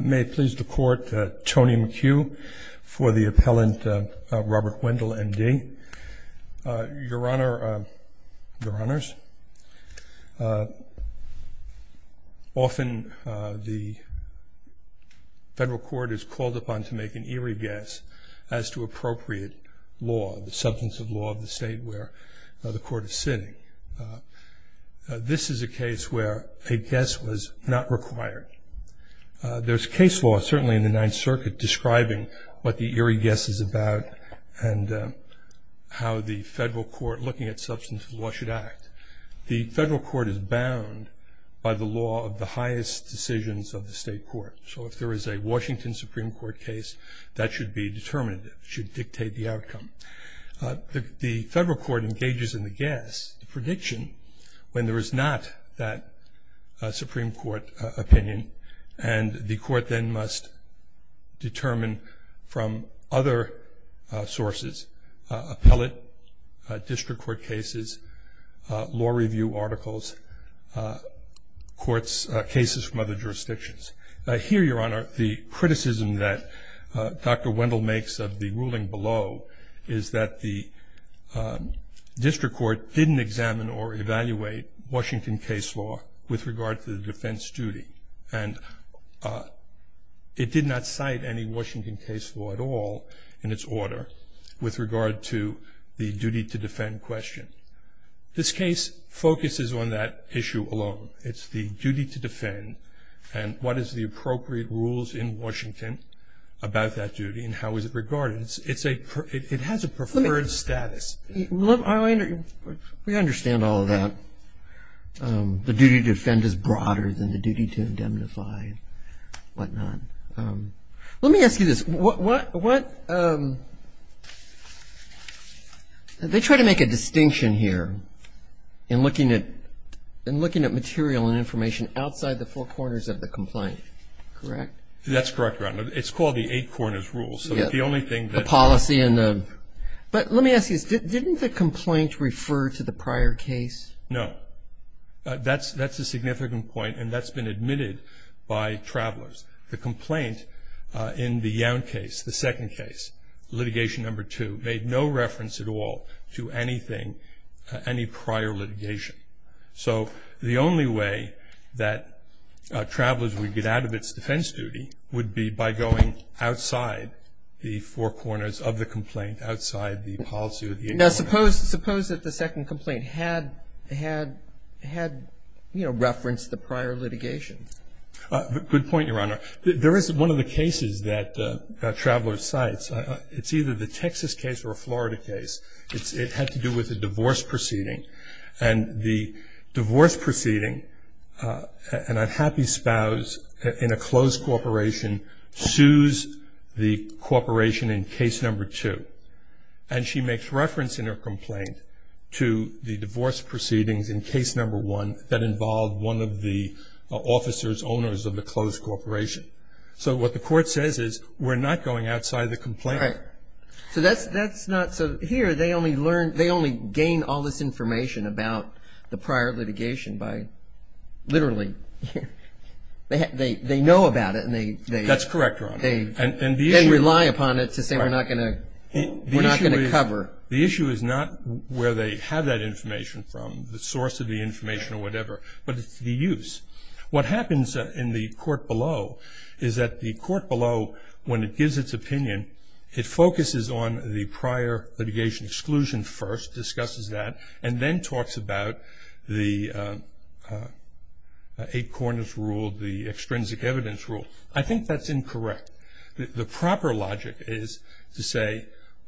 May it please the Court, Tony McHugh for the appellant Robert Wendel, M.D. Your Honor, Your Honors, often the federal court is called upon to make an eerie guess as to appropriate law, the substance of law of the state where the court is sitting. This is a case where a guess was not required. There's case law, certainly in the Ninth Circuit, describing what the eerie guess is about and how the federal court, looking at substance of law, should act. The federal court is bound by the law of the highest decisions of the state court. So if there is a Washington Supreme Court case, that should be determinative, should dictate the outcome. The federal court engages in the guess, the prediction, when there is not that Supreme Court opinion and the court then must determine from other sources, appellate, district court cases, law review articles, cases from other jurisdictions. Here, Your Honor, the criticism that Dr. Wendel makes of the ruling below is that the district court didn't examine or evaluate Washington case law with regard to the defense duty. And it did not cite any Washington case law at all in its order with regard to the duty to defend question. This case focuses on that issue alone. It's the duty to defend and what is the appropriate rules in Washington about that duty and how is it regarded. It has a preferred status. We understand all of that. The duty to defend is broader than the duty to indemnify and whatnot. Let me ask you this. What they try to make a distinction here in looking at material and information outside the four corners of the complaint. Correct? That's correct, Your Honor. It's called the eight corners rule. So the only thing that. The policy and the. But let me ask you this. Didn't the complaint refer to the prior case? No. That's a significant point and that's been admitted by travelers. The complaint in the Young case, the second case, litigation number two, made no reference at all to anything, any prior litigation. So the only way that travelers would get out of its defense duty would be by going outside the four corners of the complaint, outside the policy of the eight corners. Now suppose that the second complaint had, you know, referenced the prior litigation. Good point, Your Honor. There is one of the cases that travelers cite. It's either the Texas case or a Florida case. It had to do with a divorce proceeding. And the divorce proceeding, an unhappy spouse in a closed corporation, sues the corporation in case number two. And she makes reference in her complaint to the divorce proceedings in case number one that involved one of the officers, owners of the closed corporation. So what the court says is we're not going outside the complaint. All right. So that's not, so here they only learn, they only gain all this information about the prior litigation by literally, they know about it and they. That's correct, Your Honor. They rely upon it to say we're not going to cover. The issue is not where they have that information from, the source of the information or whatever, but it's the use. What happens in the court below is that the court below, when it gives its opinion, it focuses on the prior litigation exclusion first, discusses that and then talks about the eight corners rule, the extrinsic evidence rule. I think that's incorrect. The proper logic is to say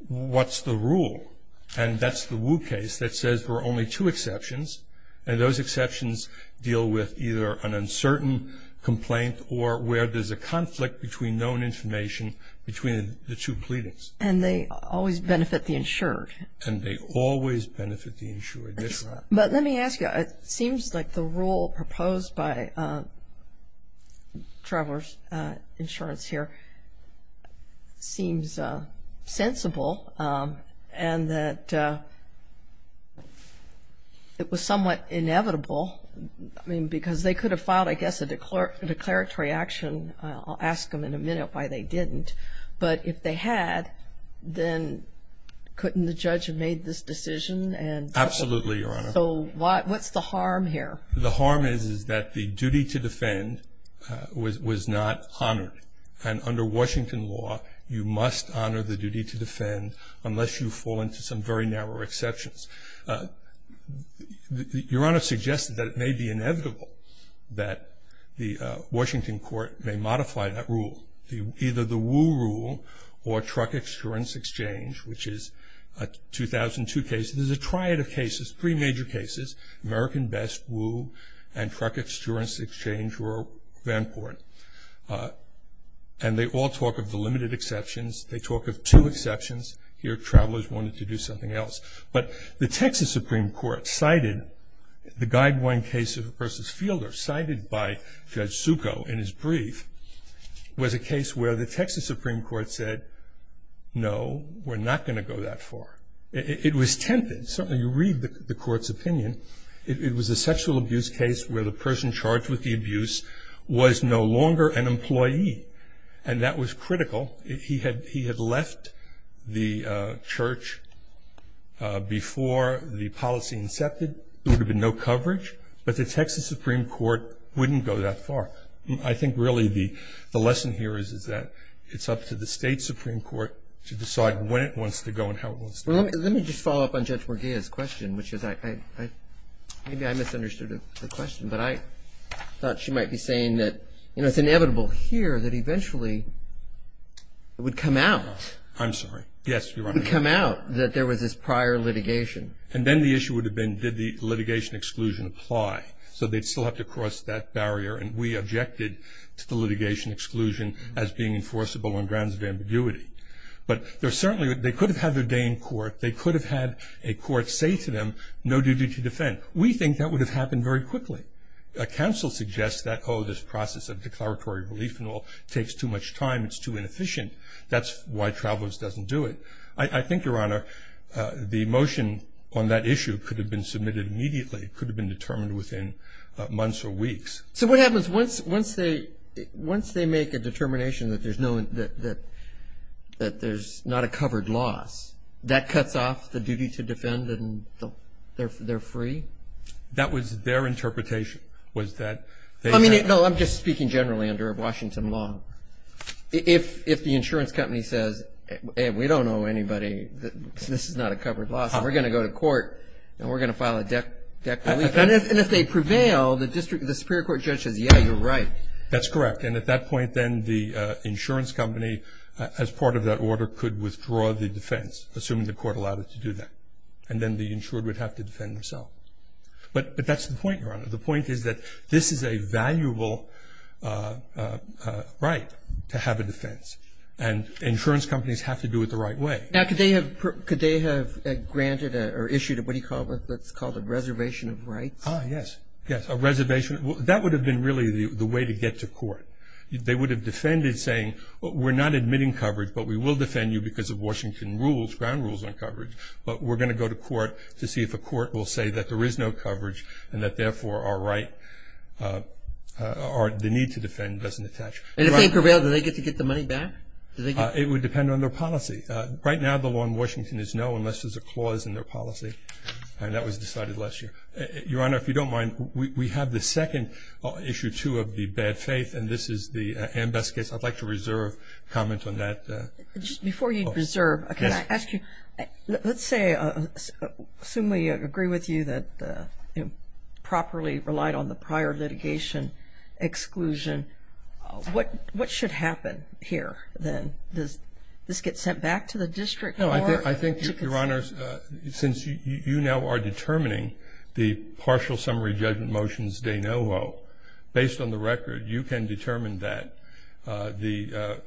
what's the rule? And that's the Wu case that says there are only two exceptions, and those exceptions deal with either an uncertain complaint or where there's a conflict between known information between the two pleadings. And they always benefit the insured. And they always benefit the insured, yes, Your Honor. But let me ask you, it seems like the rule proposed by Travelers Insurance here seems sensible and that it was somewhat inevitable, I mean, because they could have filed, I guess, a declaratory action. I'll ask them in a minute why they didn't. But if they had, then couldn't the judge have made this decision? Absolutely, Your Honor. So what's the harm here? The harm is that the duty to defend was not honored. And under Washington law, you must honor the duty to defend unless you fall into some very narrow exceptions. Your Honor suggested that it may be inevitable that the Washington court may modify that rule, either the Wu rule or truck insurance exchange, which is a 2002 case. There's a triad of cases, three major cases, American Best, Wu, and truck insurance exchange or Vanport. And they all talk of the limited exceptions. They talk of two exceptions. Here Travelers wanted to do something else. But the Texas Supreme Court cited the guideline case of versus Fielder, cited by Judge Succo in his brief, was a case where the Texas Supreme Court said, no, we're not going to go that far. It was tempted. Certainly you read the court's opinion. It was a sexual abuse case where the person charged with the abuse was no longer an employee. And that was critical. He had left the church before the policy incepted. There would have been no coverage. But the Texas Supreme Court wouldn't go that far. I think really the lesson here is that it's up to the state Supreme Court to decide when it wants to go and how it wants to go. Let me just follow up on Judge Morgia's question. Maybe I misunderstood her question. But I thought she might be saying that it's inevitable here that eventually it would come out. I'm sorry. Yes, Your Honor. It would come out that there was this prior litigation. And then the issue would have been did the litigation exclusion apply. So they'd still have to cross that barrier. And we objected to the litigation exclusion as being enforceable on grounds of ambiguity. But certainly they could have had their day in court. They could have had a court say to them, no duty to defend. We think that would have happened very quickly. A counsel suggests that, oh, this process of declaratory relief and all takes too much time. It's too inefficient. That's why Travelers doesn't do it. I think, Your Honor, the motion on that issue could have been submitted immediately. It could have been determined within months or weeks. So what happens once they make a determination that there's not a covered loss, that cuts off the duty to defend and they're free? That was their interpretation was that they had. No, I'm just speaking generally under Washington law. If the insurance company says, hey, we don't owe anybody. This is not a covered loss. We're going to go to court and we're going to file a declaratory relief. And if they prevail, the Superior Court judge says, yeah, you're right. That's correct. And at that point then the insurance company, as part of that order, could withdraw the defense, assuming the court allowed it to do that. And then the insured would have to defend themselves. But that's the point, Your Honor. The point is that this is a valuable right to have a defense. And insurance companies have to do it the right way. Now could they have granted or issued what's called a reservation of rights? Ah, yes. Yes, a reservation. That would have been really the way to get to court. They would have defended saying, we're not admitting coverage, but we will defend you because of Washington rules, ground rules on coverage. But we're going to go to court to see if a court will say that there is no coverage and that, therefore, the need to defend doesn't attach. And if they prevail, do they get to get the money back? It would depend on their policy. Right now the law in Washington is no unless there's a clause in their policy. And that was decided last year. Your Honor, if you don't mind, we have the second issue, too, of the bad faith. And this is the ambassador's case. I'd like to reserve comment on that. Before you reserve, can I ask you, let's say, assume we agree with you that properly relied on the prior litigation exclusion. What should happen here then? Does this get sent back to the district? No, I think, Your Honor, since you now are determining the partial summary judgment motions de novo, based on the record, you can determine that the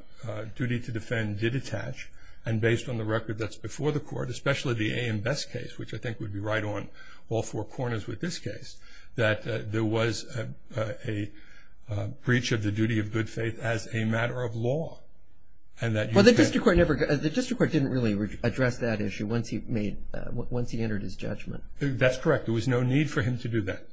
duty to defend did attach. And based on the record that's before the court, especially the AM Best case, which I think would be right on all four corners with this case, that there was a breach of the duty of good faith as a matter of law. Well, the district court didn't really address that issue once he entered his judgment. That's correct. There was no need for him to do that.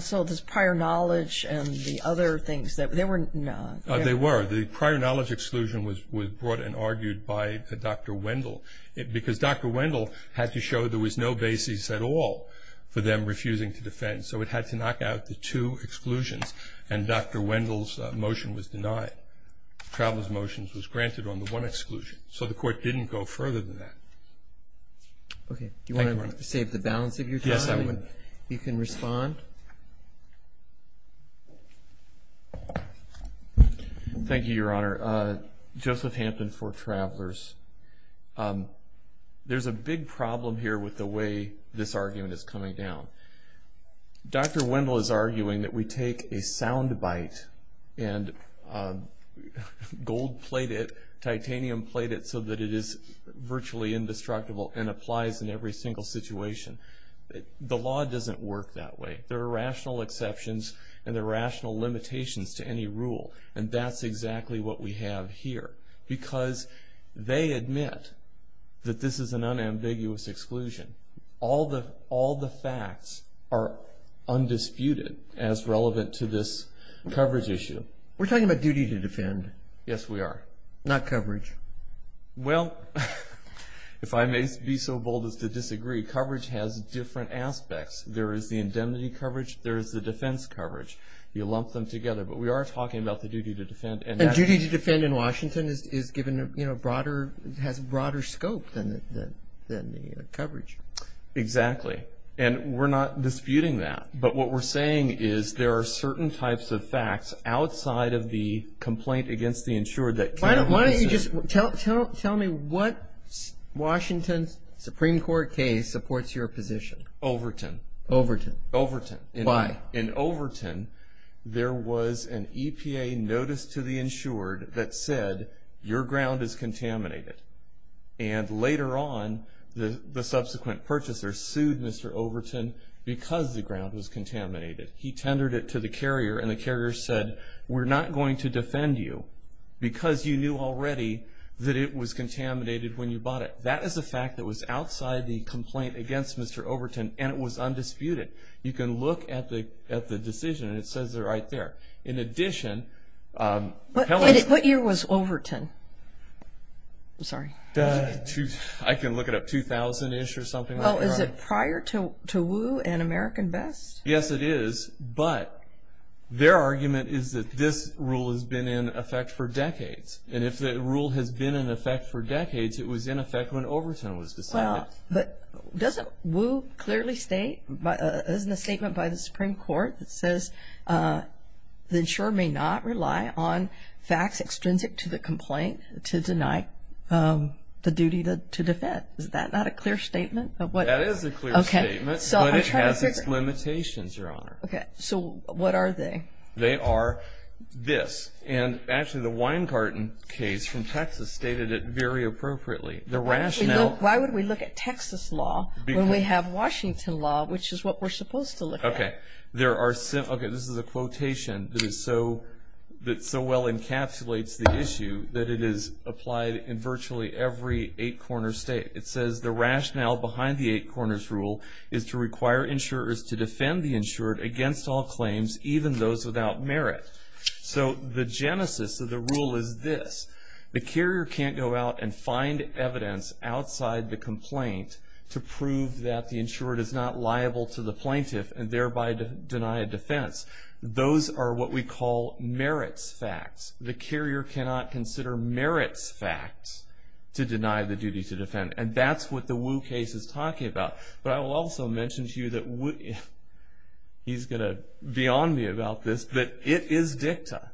So this prior knowledge and the other things, they were not. They were. The prior knowledge exclusion was brought and argued by Dr. Wendell because Dr. Wendell had to show there was no basis at all for them refusing to defend. So it had to knock out the two exclusions, and Dr. Wendell's motion was denied. Traveler's motion was granted on the one exclusion. So the court didn't go further than that. Okay. Do you want to save the balance of your time? Yes, I would. You can respond. Thank you, Your Honor. Joseph Hampton for Travelers. There's a big problem here with the way this argument is coming down. Dr. Wendell is arguing that we take a sound bite and gold plate it, titanium plate it so that it is virtually indestructible and applies in every single situation. The law doesn't work that way. There are rational exceptions and there are rational limitations to any rule, and that's exactly what we have here. Because they admit that this is an unambiguous exclusion. All the facts are undisputed as relevant to this coverage issue. We're talking about duty to defend. Yes, we are. Not coverage. Well, if I may be so bold as to disagree, coverage has different aspects. There is the indemnity coverage. There is the defense coverage. You lump them together, but we are talking about the duty to defend. And duty to defend in Washington has a broader scope than the coverage. Exactly, and we're not disputing that. But what we're saying is there are certain types of facts outside of the complaint against the insured that can be considered. Why don't you just tell me what Washington Supreme Court case supports your position? Overton. Overton. Overton. Why? In Overton, there was an EPA notice to the insured that said, your ground is contaminated. And later on, the subsequent purchaser sued Mr. Overton because the ground was contaminated. He tendered it to the carrier, and the carrier said, we're not going to defend you because you knew already that it was contaminated when you bought it. That is a fact that was outside the complaint against Mr. Overton, and it was undisputed. You can look at the decision, and it says it right there. In addition, Helen – What year was Overton? I'm sorry. I can look it up, 2000-ish or something like that. Is it prior to Wu and American Best? Yes, it is. But their argument is that this rule has been in effect for decades. And if the rule has been in effect for decades, it was in effect when Overton was decided. But doesn't Wu clearly state – isn't the statement by the Supreme Court that says, the insurer may not rely on facts extrinsic to the complaint to deny the duty to defend? Is that not a clear statement? That is a clear statement, but it has its limitations, Your Honor. Okay, so what are they? They are this. And actually, the wine carton case from Texas stated it very appropriately. The rationale – Why would we look at Texas law when we have Washington law, which is what we're supposed to look at? Okay, this is a quotation that so well encapsulates the issue that it is applied in virtually every eight-corner state. It says, The rationale behind the eight-corners rule is to require insurers to defend the insured against all claims, even those without merit. So the genesis of the rule is this. The carrier can't go out and find evidence outside the complaint to prove that the insured is not liable to the plaintiff and thereby deny a defense. Those are what we call merits facts. The carrier cannot consider merits facts to deny the duty to defend. And that's what the Wu case is talking about. But I will also mention to you that – he's going to be on me about this – that it is dicta.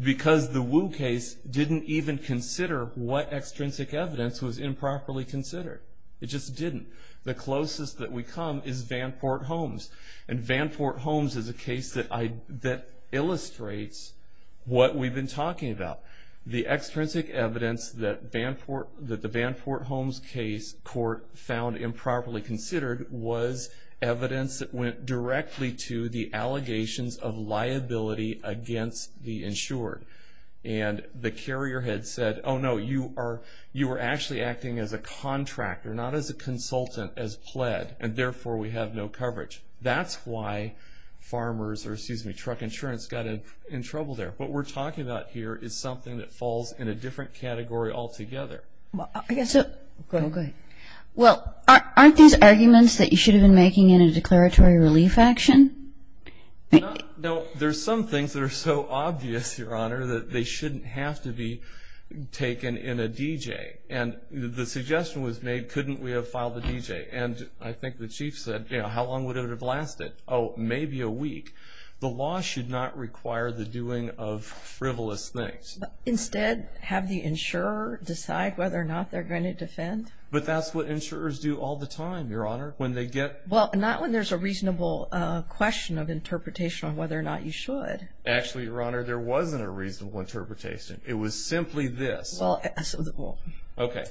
Because the Wu case didn't even consider what extrinsic evidence was improperly considered. It just didn't. The closest that we come is Vanport Holmes. And Vanport Holmes is a case that illustrates what we've been talking about. The extrinsic evidence that the Vanport Holmes case court found improperly considered was evidence that went directly to the allegations of liability against the insured. And the carrier had said, oh, no, you are actually acting as a contractor, not as a consultant, as pled, and therefore we have no coverage. That's why truck insurance got in trouble there. What we're talking about here is something that falls in a different category altogether. Go ahead. Well, aren't these arguments that you should have been making in a declaratory relief action? No, there's some things that are so obvious, Your Honor, that they shouldn't have to be taken in a DJ. And the suggestion was made, couldn't we have filed a DJ? And I think the chief said, you know, how long would it have lasted? Oh, maybe a week. The law should not require the doing of frivolous things. Instead, have the insurer decide whether or not they're going to defend. But that's what insurers do all the time, Your Honor. Well, not when there's a reasonable question of interpretation on whether or not you should. Actually, Your Honor, there wasn't a reasonable interpretation. It was simply this. Okay.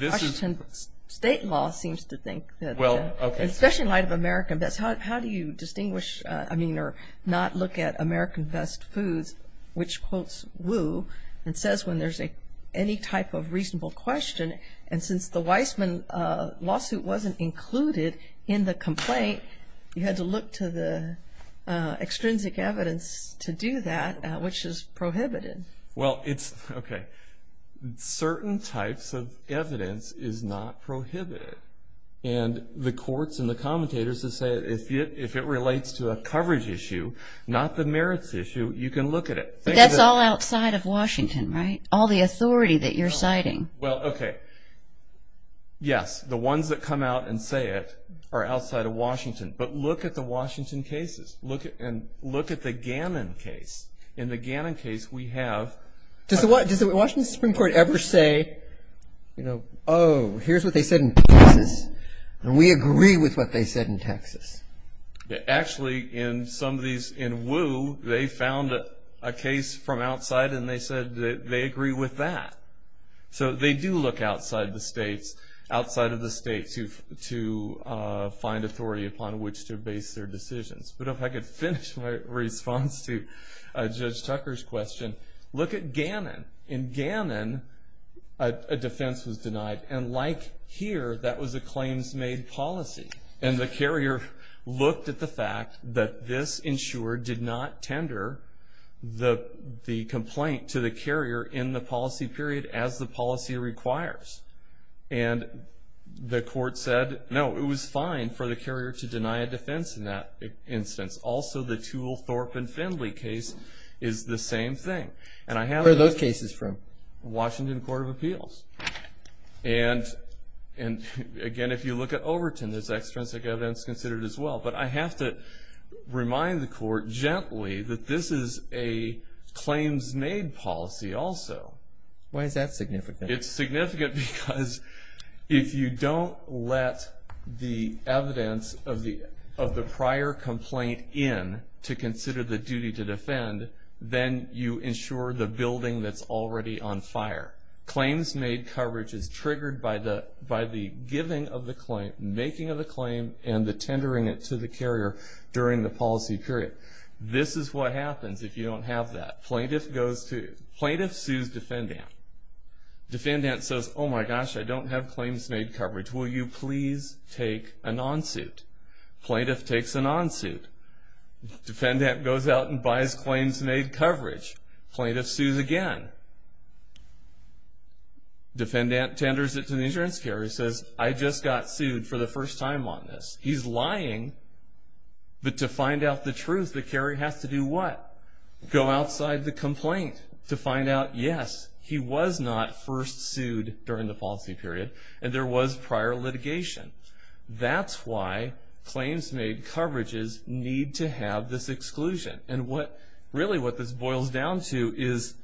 Washington state law seems to think that, especially in light of American Best, how do you distinguish, I mean, or not look at American Best Foods, which quotes Wu and says when there's any type of reasonable question, and since the Weisman lawsuit wasn't included in the complaint, you had to look to the extrinsic evidence to do that, which is prohibited. Well, it's, okay, certain types of evidence is not prohibited. And the courts and the commentators have said, if it relates to a coverage issue, not the merits issue, you can look at it. But that's all outside of Washington, right? All the authority that you're citing. Well, okay. Yes, the ones that come out and say it are outside of Washington. But look at the Washington cases. Look at the Gannon case. In the Gannon case, we have – Does the Washington Supreme Court ever say, you know, Actually, in some of these, in Wu, they found a case from outside and they said they agree with that. So they do look outside the states, outside of the states, to find authority upon which to base their decisions. But if I could finish my response to Judge Tucker's question. Look at Gannon. In Gannon, a defense was denied. And like here, that was a claims-made policy. And the carrier looked at the fact that this insurer did not tender the complaint to the carrier in the policy period as the policy requires. And the court said, no, it was fine for the carrier to deny a defense in that instance. Also, the Toole, Thorpe, and Findley case is the same thing. Where are those cases from? Washington Court of Appeals. And, again, if you look at Overton, there's extrinsic evidence considered as well. But I have to remind the court gently that this is a claims-made policy also. Why is that significant? It's significant because if you don't let the evidence of the prior complaint in to consider the duty to defend, then you insure the building that's already on fire. Claims-made coverage is triggered by the giving of the claim, making of the claim, and the tendering it to the carrier during the policy period. This is what happens if you don't have that. Plaintiff sues defendant. Defendant says, oh, my gosh, I don't have claims-made coverage. Will you please take an on-suit? Plaintiff takes an on-suit. Defendant goes out and buys claims-made coverage. Plaintiff sues again. Defendant tenders it to the insurance carrier. He says, I just got sued for the first time on this. He's lying. But to find out the truth, the carrier has to do what? Go outside the complaint to find out, yes, he was not first sued during the policy period, and there was prior litigation. That's why claims-made coverages need to have this exclusion. Really what this boils down to is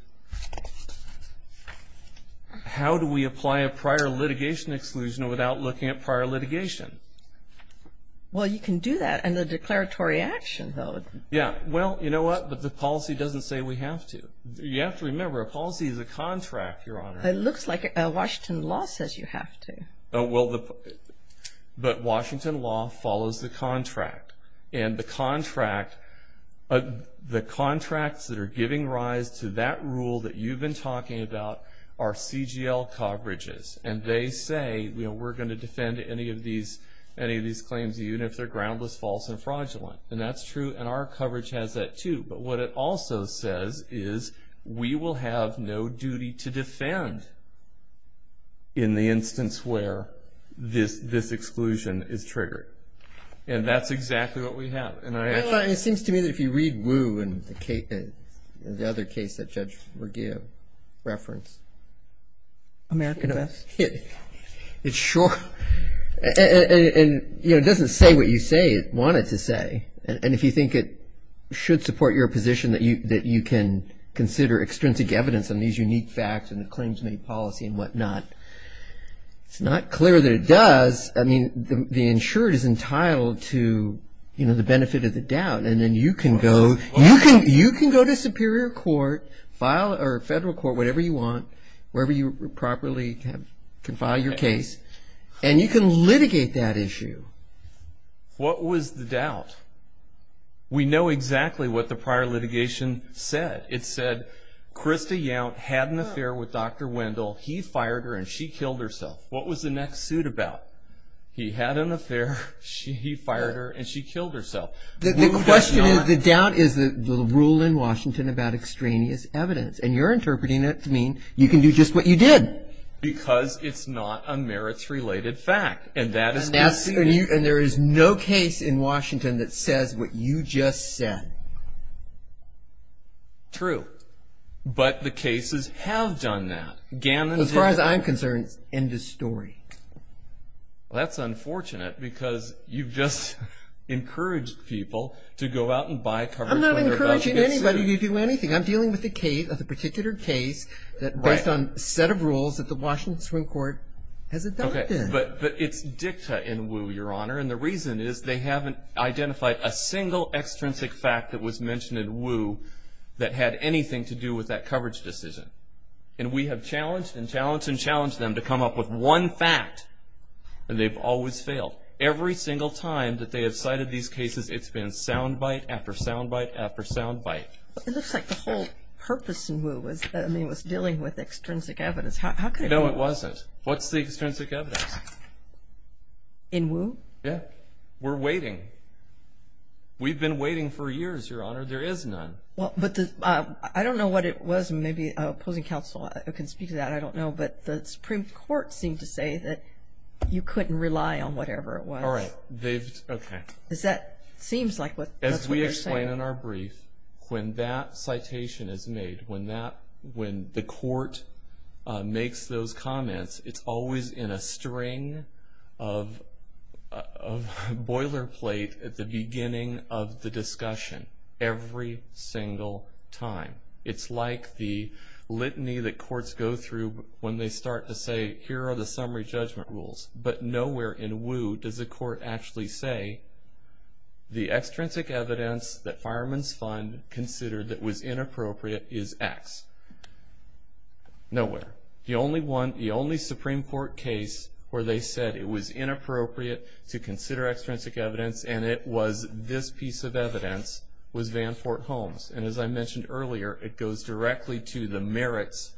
how do we apply a prior litigation exclusion without looking at prior litigation? Well, you can do that under declaratory action, though. Yeah. Well, you know what? The policy doesn't say we have to. You have to remember, a policy is a contract, Your Honor. It looks like Washington law says you have to. But Washington law follows the contract. And the contracts that are giving rise to that rule that you've been talking about are CGL coverages. And they say, you know, we're going to defend any of these claims, even if they're groundless, false, and fraudulent. And that's true, and our coverage has that, too. But what it also says is we will have no duty to defend in the instance where this exclusion is triggered. And that's exactly what we have. Well, it seems to me that if you read Wu and the other case that Judge Merguez referenced. American invest? Yeah. It's short. And, you know, it doesn't say what you say it wanted to say. And if you think it should support your position that you can consider extrinsic evidence on these unique facts and the claims-made policy and whatnot, it's not clear that it does. I mean, the insured is entitled to, you know, the benefit of the doubt. And then you can go to superior court, federal court, whatever you want, wherever you properly can file your case, and you can litigate that issue. What was the doubt? We know exactly what the prior litigation said. It said Krista Yount had an affair with Dr. Wendell. He fired her, and she killed herself. What was the next suit about? He had an affair, he fired her, and she killed herself. The question is, the doubt is the rule in Washington about extraneous evidence. And you're interpreting it to mean you can do just what you did. Because it's not a merits-related fact. And there is no case in Washington that says what you just said. True. But the cases have done that. As far as I'm concerned, end of story. Well, that's unfortunate because you've just encouraged people to go out and buy coverage when they're about to get sued. I'm not encouraging anybody to do anything. I'm dealing with a particular case that based on a set of rules that the Washington Supreme Court has adopted. But it's dicta in Wu, Your Honor, and the reason is they haven't identified a single extrinsic fact that was mentioned in Wu that had anything to do with that coverage decision. And we have challenged and challenged and challenged them to come up with one fact, and they've always failed. Every single time that they have cited these cases, it's been soundbite after soundbite after soundbite. It looks like the whole purpose in Wu was dealing with extrinsic evidence. How could it be? No, it wasn't. What's the extrinsic evidence? In Wu? Yeah. We're waiting. We've been waiting for years, Your Honor. There is none. I don't know what it was. Maybe opposing counsel can speak to that. I don't know. But the Supreme Court seemed to say that you couldn't rely on whatever it was. All right. Okay. It seems like that's what they're saying. As we explain in our brief, when that citation is made, when the court makes those comments, it's always in a string of boilerplate at the beginning of the discussion. Every single time. It's like the litany that courts go through when they start to say, here are the summary judgment rules. But nowhere in Wu does the court actually say, the extrinsic evidence that Fireman's Fund considered that was inappropriate is X. Nowhere. And as I mentioned earlier, it goes directly to the merits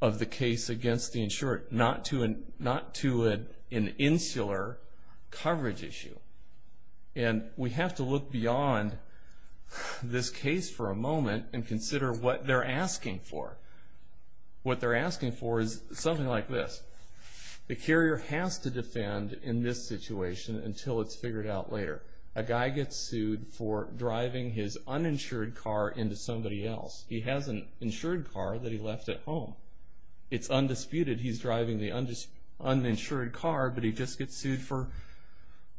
of the case against the insured, not to an insular coverage issue. And we have to look beyond this case for a moment and consider what they're asking for. What they're asking for is something like this. The carrier has to defend in this situation until it's figured out later. A guy gets sued for driving his uninsured car into somebody else. He has an insured car that he left at home. It's undisputed he's driving the uninsured car, but he just gets sued for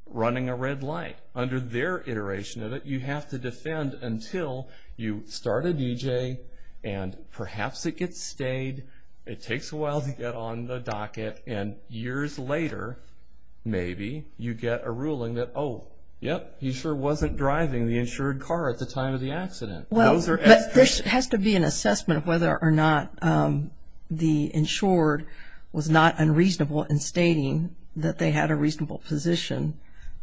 running a red light. Under their iteration of it, you have to defend until you start a DJ and perhaps it gets stayed, it takes a while to get on the docket, and years later maybe you get a ruling that, oh, yep, he sure wasn't driving the insured car at the time of the accident. There has to be an assessment of whether or not the insured was not unreasonable in stating that they had a reasonable position,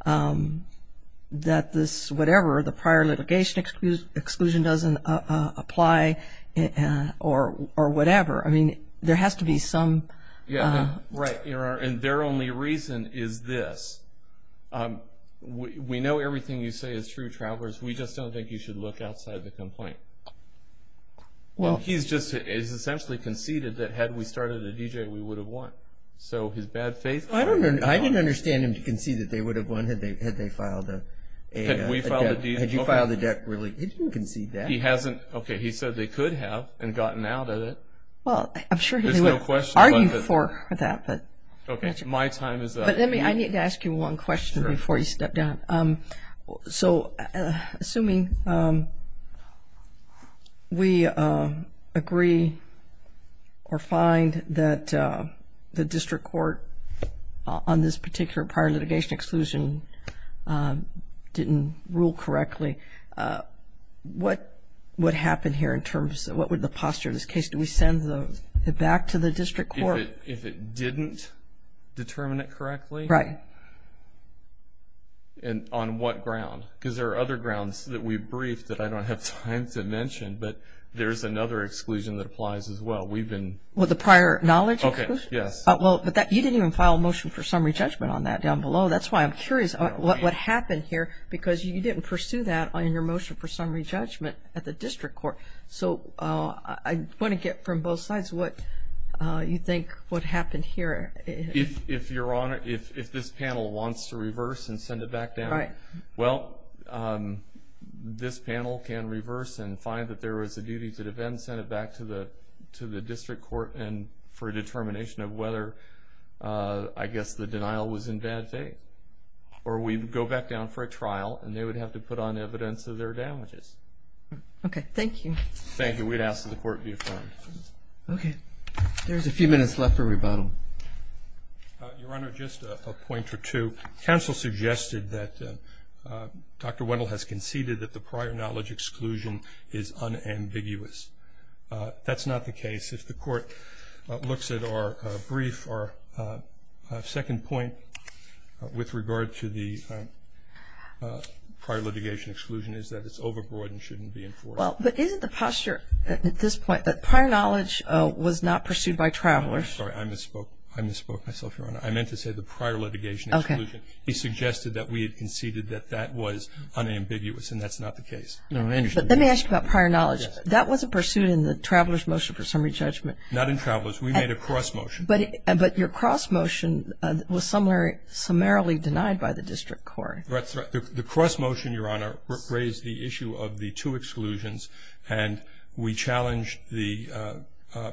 that this whatever, the prior litigation exclusion doesn't apply or whatever. There has to be some... Right, and their only reason is this. We know everything you say is true, Travers. We just don't think you should look outside the complaint. He's essentially conceded that had we started a DJ we would have won. So his bad faith... I didn't understand him to concede that they would have won had they filed a debt. Had you filed a debt, really, he didn't concede that. He hasn't. Okay, he said they could have and gotten out of it. Well, I'm sure he would argue for that. Okay, my time is up. But let me, I need to ask you one question before you step down. So assuming we agree or find that the district court on this particular prior litigation exclusion didn't rule correctly, what would happen here in terms of what would the posture of this case? Do we send it back to the district court? If it didn't determine it correctly? Right. And on what ground? Because there are other grounds that we briefed that I don't have time to mention, but there's another exclusion that applies as well. We've been... Well, the prior knowledge exclusion? Okay, yes. Well, you didn't even file a motion for summary judgment on that down below. Oh, that's why I'm curious what happened here because you didn't pursue that on your motion for summary judgment at the district court. So I want to get from both sides what you think what happened here. If this panel wants to reverse and send it back down, well, this panel can reverse and find that there was a duty to defend, send it back to the district court for a determination of whether, I guess, the denial was in bad faith. Or we go back down for a trial and they would have to put on evidence of their damages. Okay, thank you. Thank you. We'd ask that the court be affirmed. Okay. There's a few minutes left for rebuttal. Your Honor, just a point or two. Counsel suggested that Dr. Wendell has conceded that the prior knowledge exclusion is unambiguous. That's not the case. If the court looks at our brief, our second point with regard to the prior litigation exclusion is that it's overbroad and shouldn't be enforced. Well, but isn't the posture at this point that prior knowledge was not pursued by travelers? I'm sorry, I misspoke. I misspoke myself, Your Honor. I meant to say the prior litigation exclusion. He suggested that we had conceded that that was unambiguous, and that's not the case. Let me ask you about prior knowledge. Yes. That wasn't pursued in the traveler's motion for summary judgment. Not in traveler's. We made a cross motion. But your cross motion was summarily denied by the district court. That's right. The cross motion, Your Honor, raised the issue of the two exclusions, and we challenged the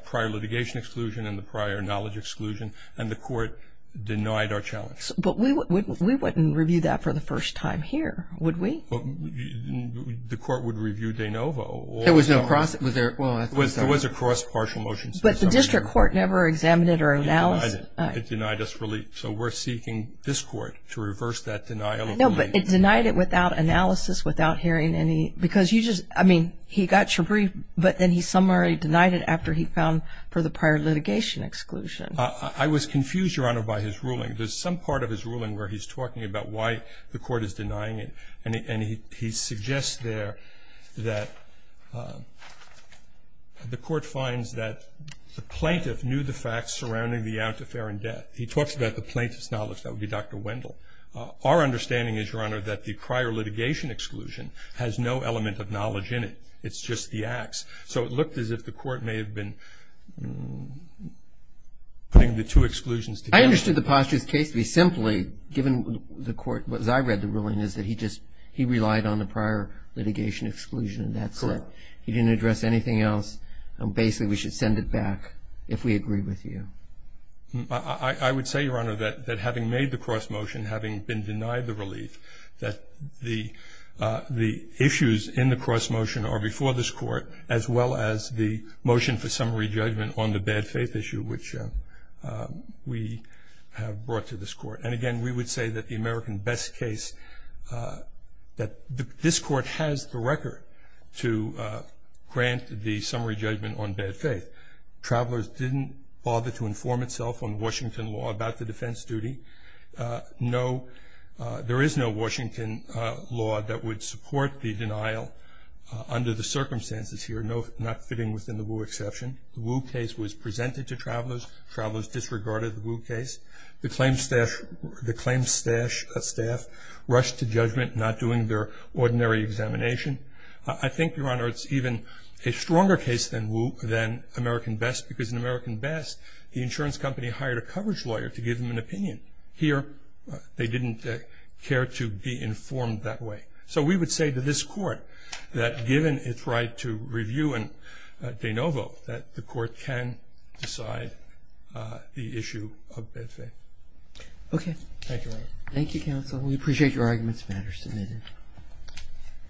prior litigation exclusion and the prior knowledge exclusion, and the court denied our challenge. But we wouldn't review that for the first time here, would we? The court would review de novo. There was no cross? Well, I'm sorry. There was a cross partial motion. But the district court never examined it or analyzed it. It denied us relief. So we're seeking this court to reverse that denial of relief. No, but it denied it without analysis, without hearing any. Because you just, I mean, he got your brief, but then he summarily denied it after he found for the prior litigation exclusion. I was confused, Your Honor, by his ruling. There's some part of his ruling where he's talking about why the court is denying it, and he suggests there that the court finds that the plaintiff knew the facts surrounding the out-to-fair and death. He talks about the plaintiff's knowledge. That would be Dr. Wendell. Our understanding is, Your Honor, that the prior litigation exclusion has no element of knowledge in it. It's just the acts. So it looked as if the court may have been putting the two exclusions together. I understood the posture's case to be simply, given the court, as I read the ruling, is that he relied on the prior litigation exclusion, and that's it. Correct. He didn't address anything else. Basically, we should send it back if we agree with you. I would say, Your Honor, that having made the cross motion, having been denied the relief, that the issues in the cross motion are before this court, as well as the motion for summary judgment on the bad faith issue, which we have brought to this court. And, again, we would say that the American best case, that this court has the record to grant the summary judgment on bad faith. Travelers didn't bother to inform itself on Washington law about the defense duty. There is no Washington law that would support the denial under the circumstances here, not fitting within the Wu exception. The Wu case was presented to travelers. Travelers disregarded the Wu case. The claim staff rushed to judgment, not doing their ordinary examination. I think, Your Honor, it's even a stronger case than American best, because in American best, the insurance company hired a coverage lawyer to give them an opinion. Here, they didn't care to be informed that way. So we would say to this court, that given its right to review and de novo, that the court can decide the issue of bad faith. Okay. Thank you, Your Honor. Thank you, counsel. We appreciate your arguments, matter submitted.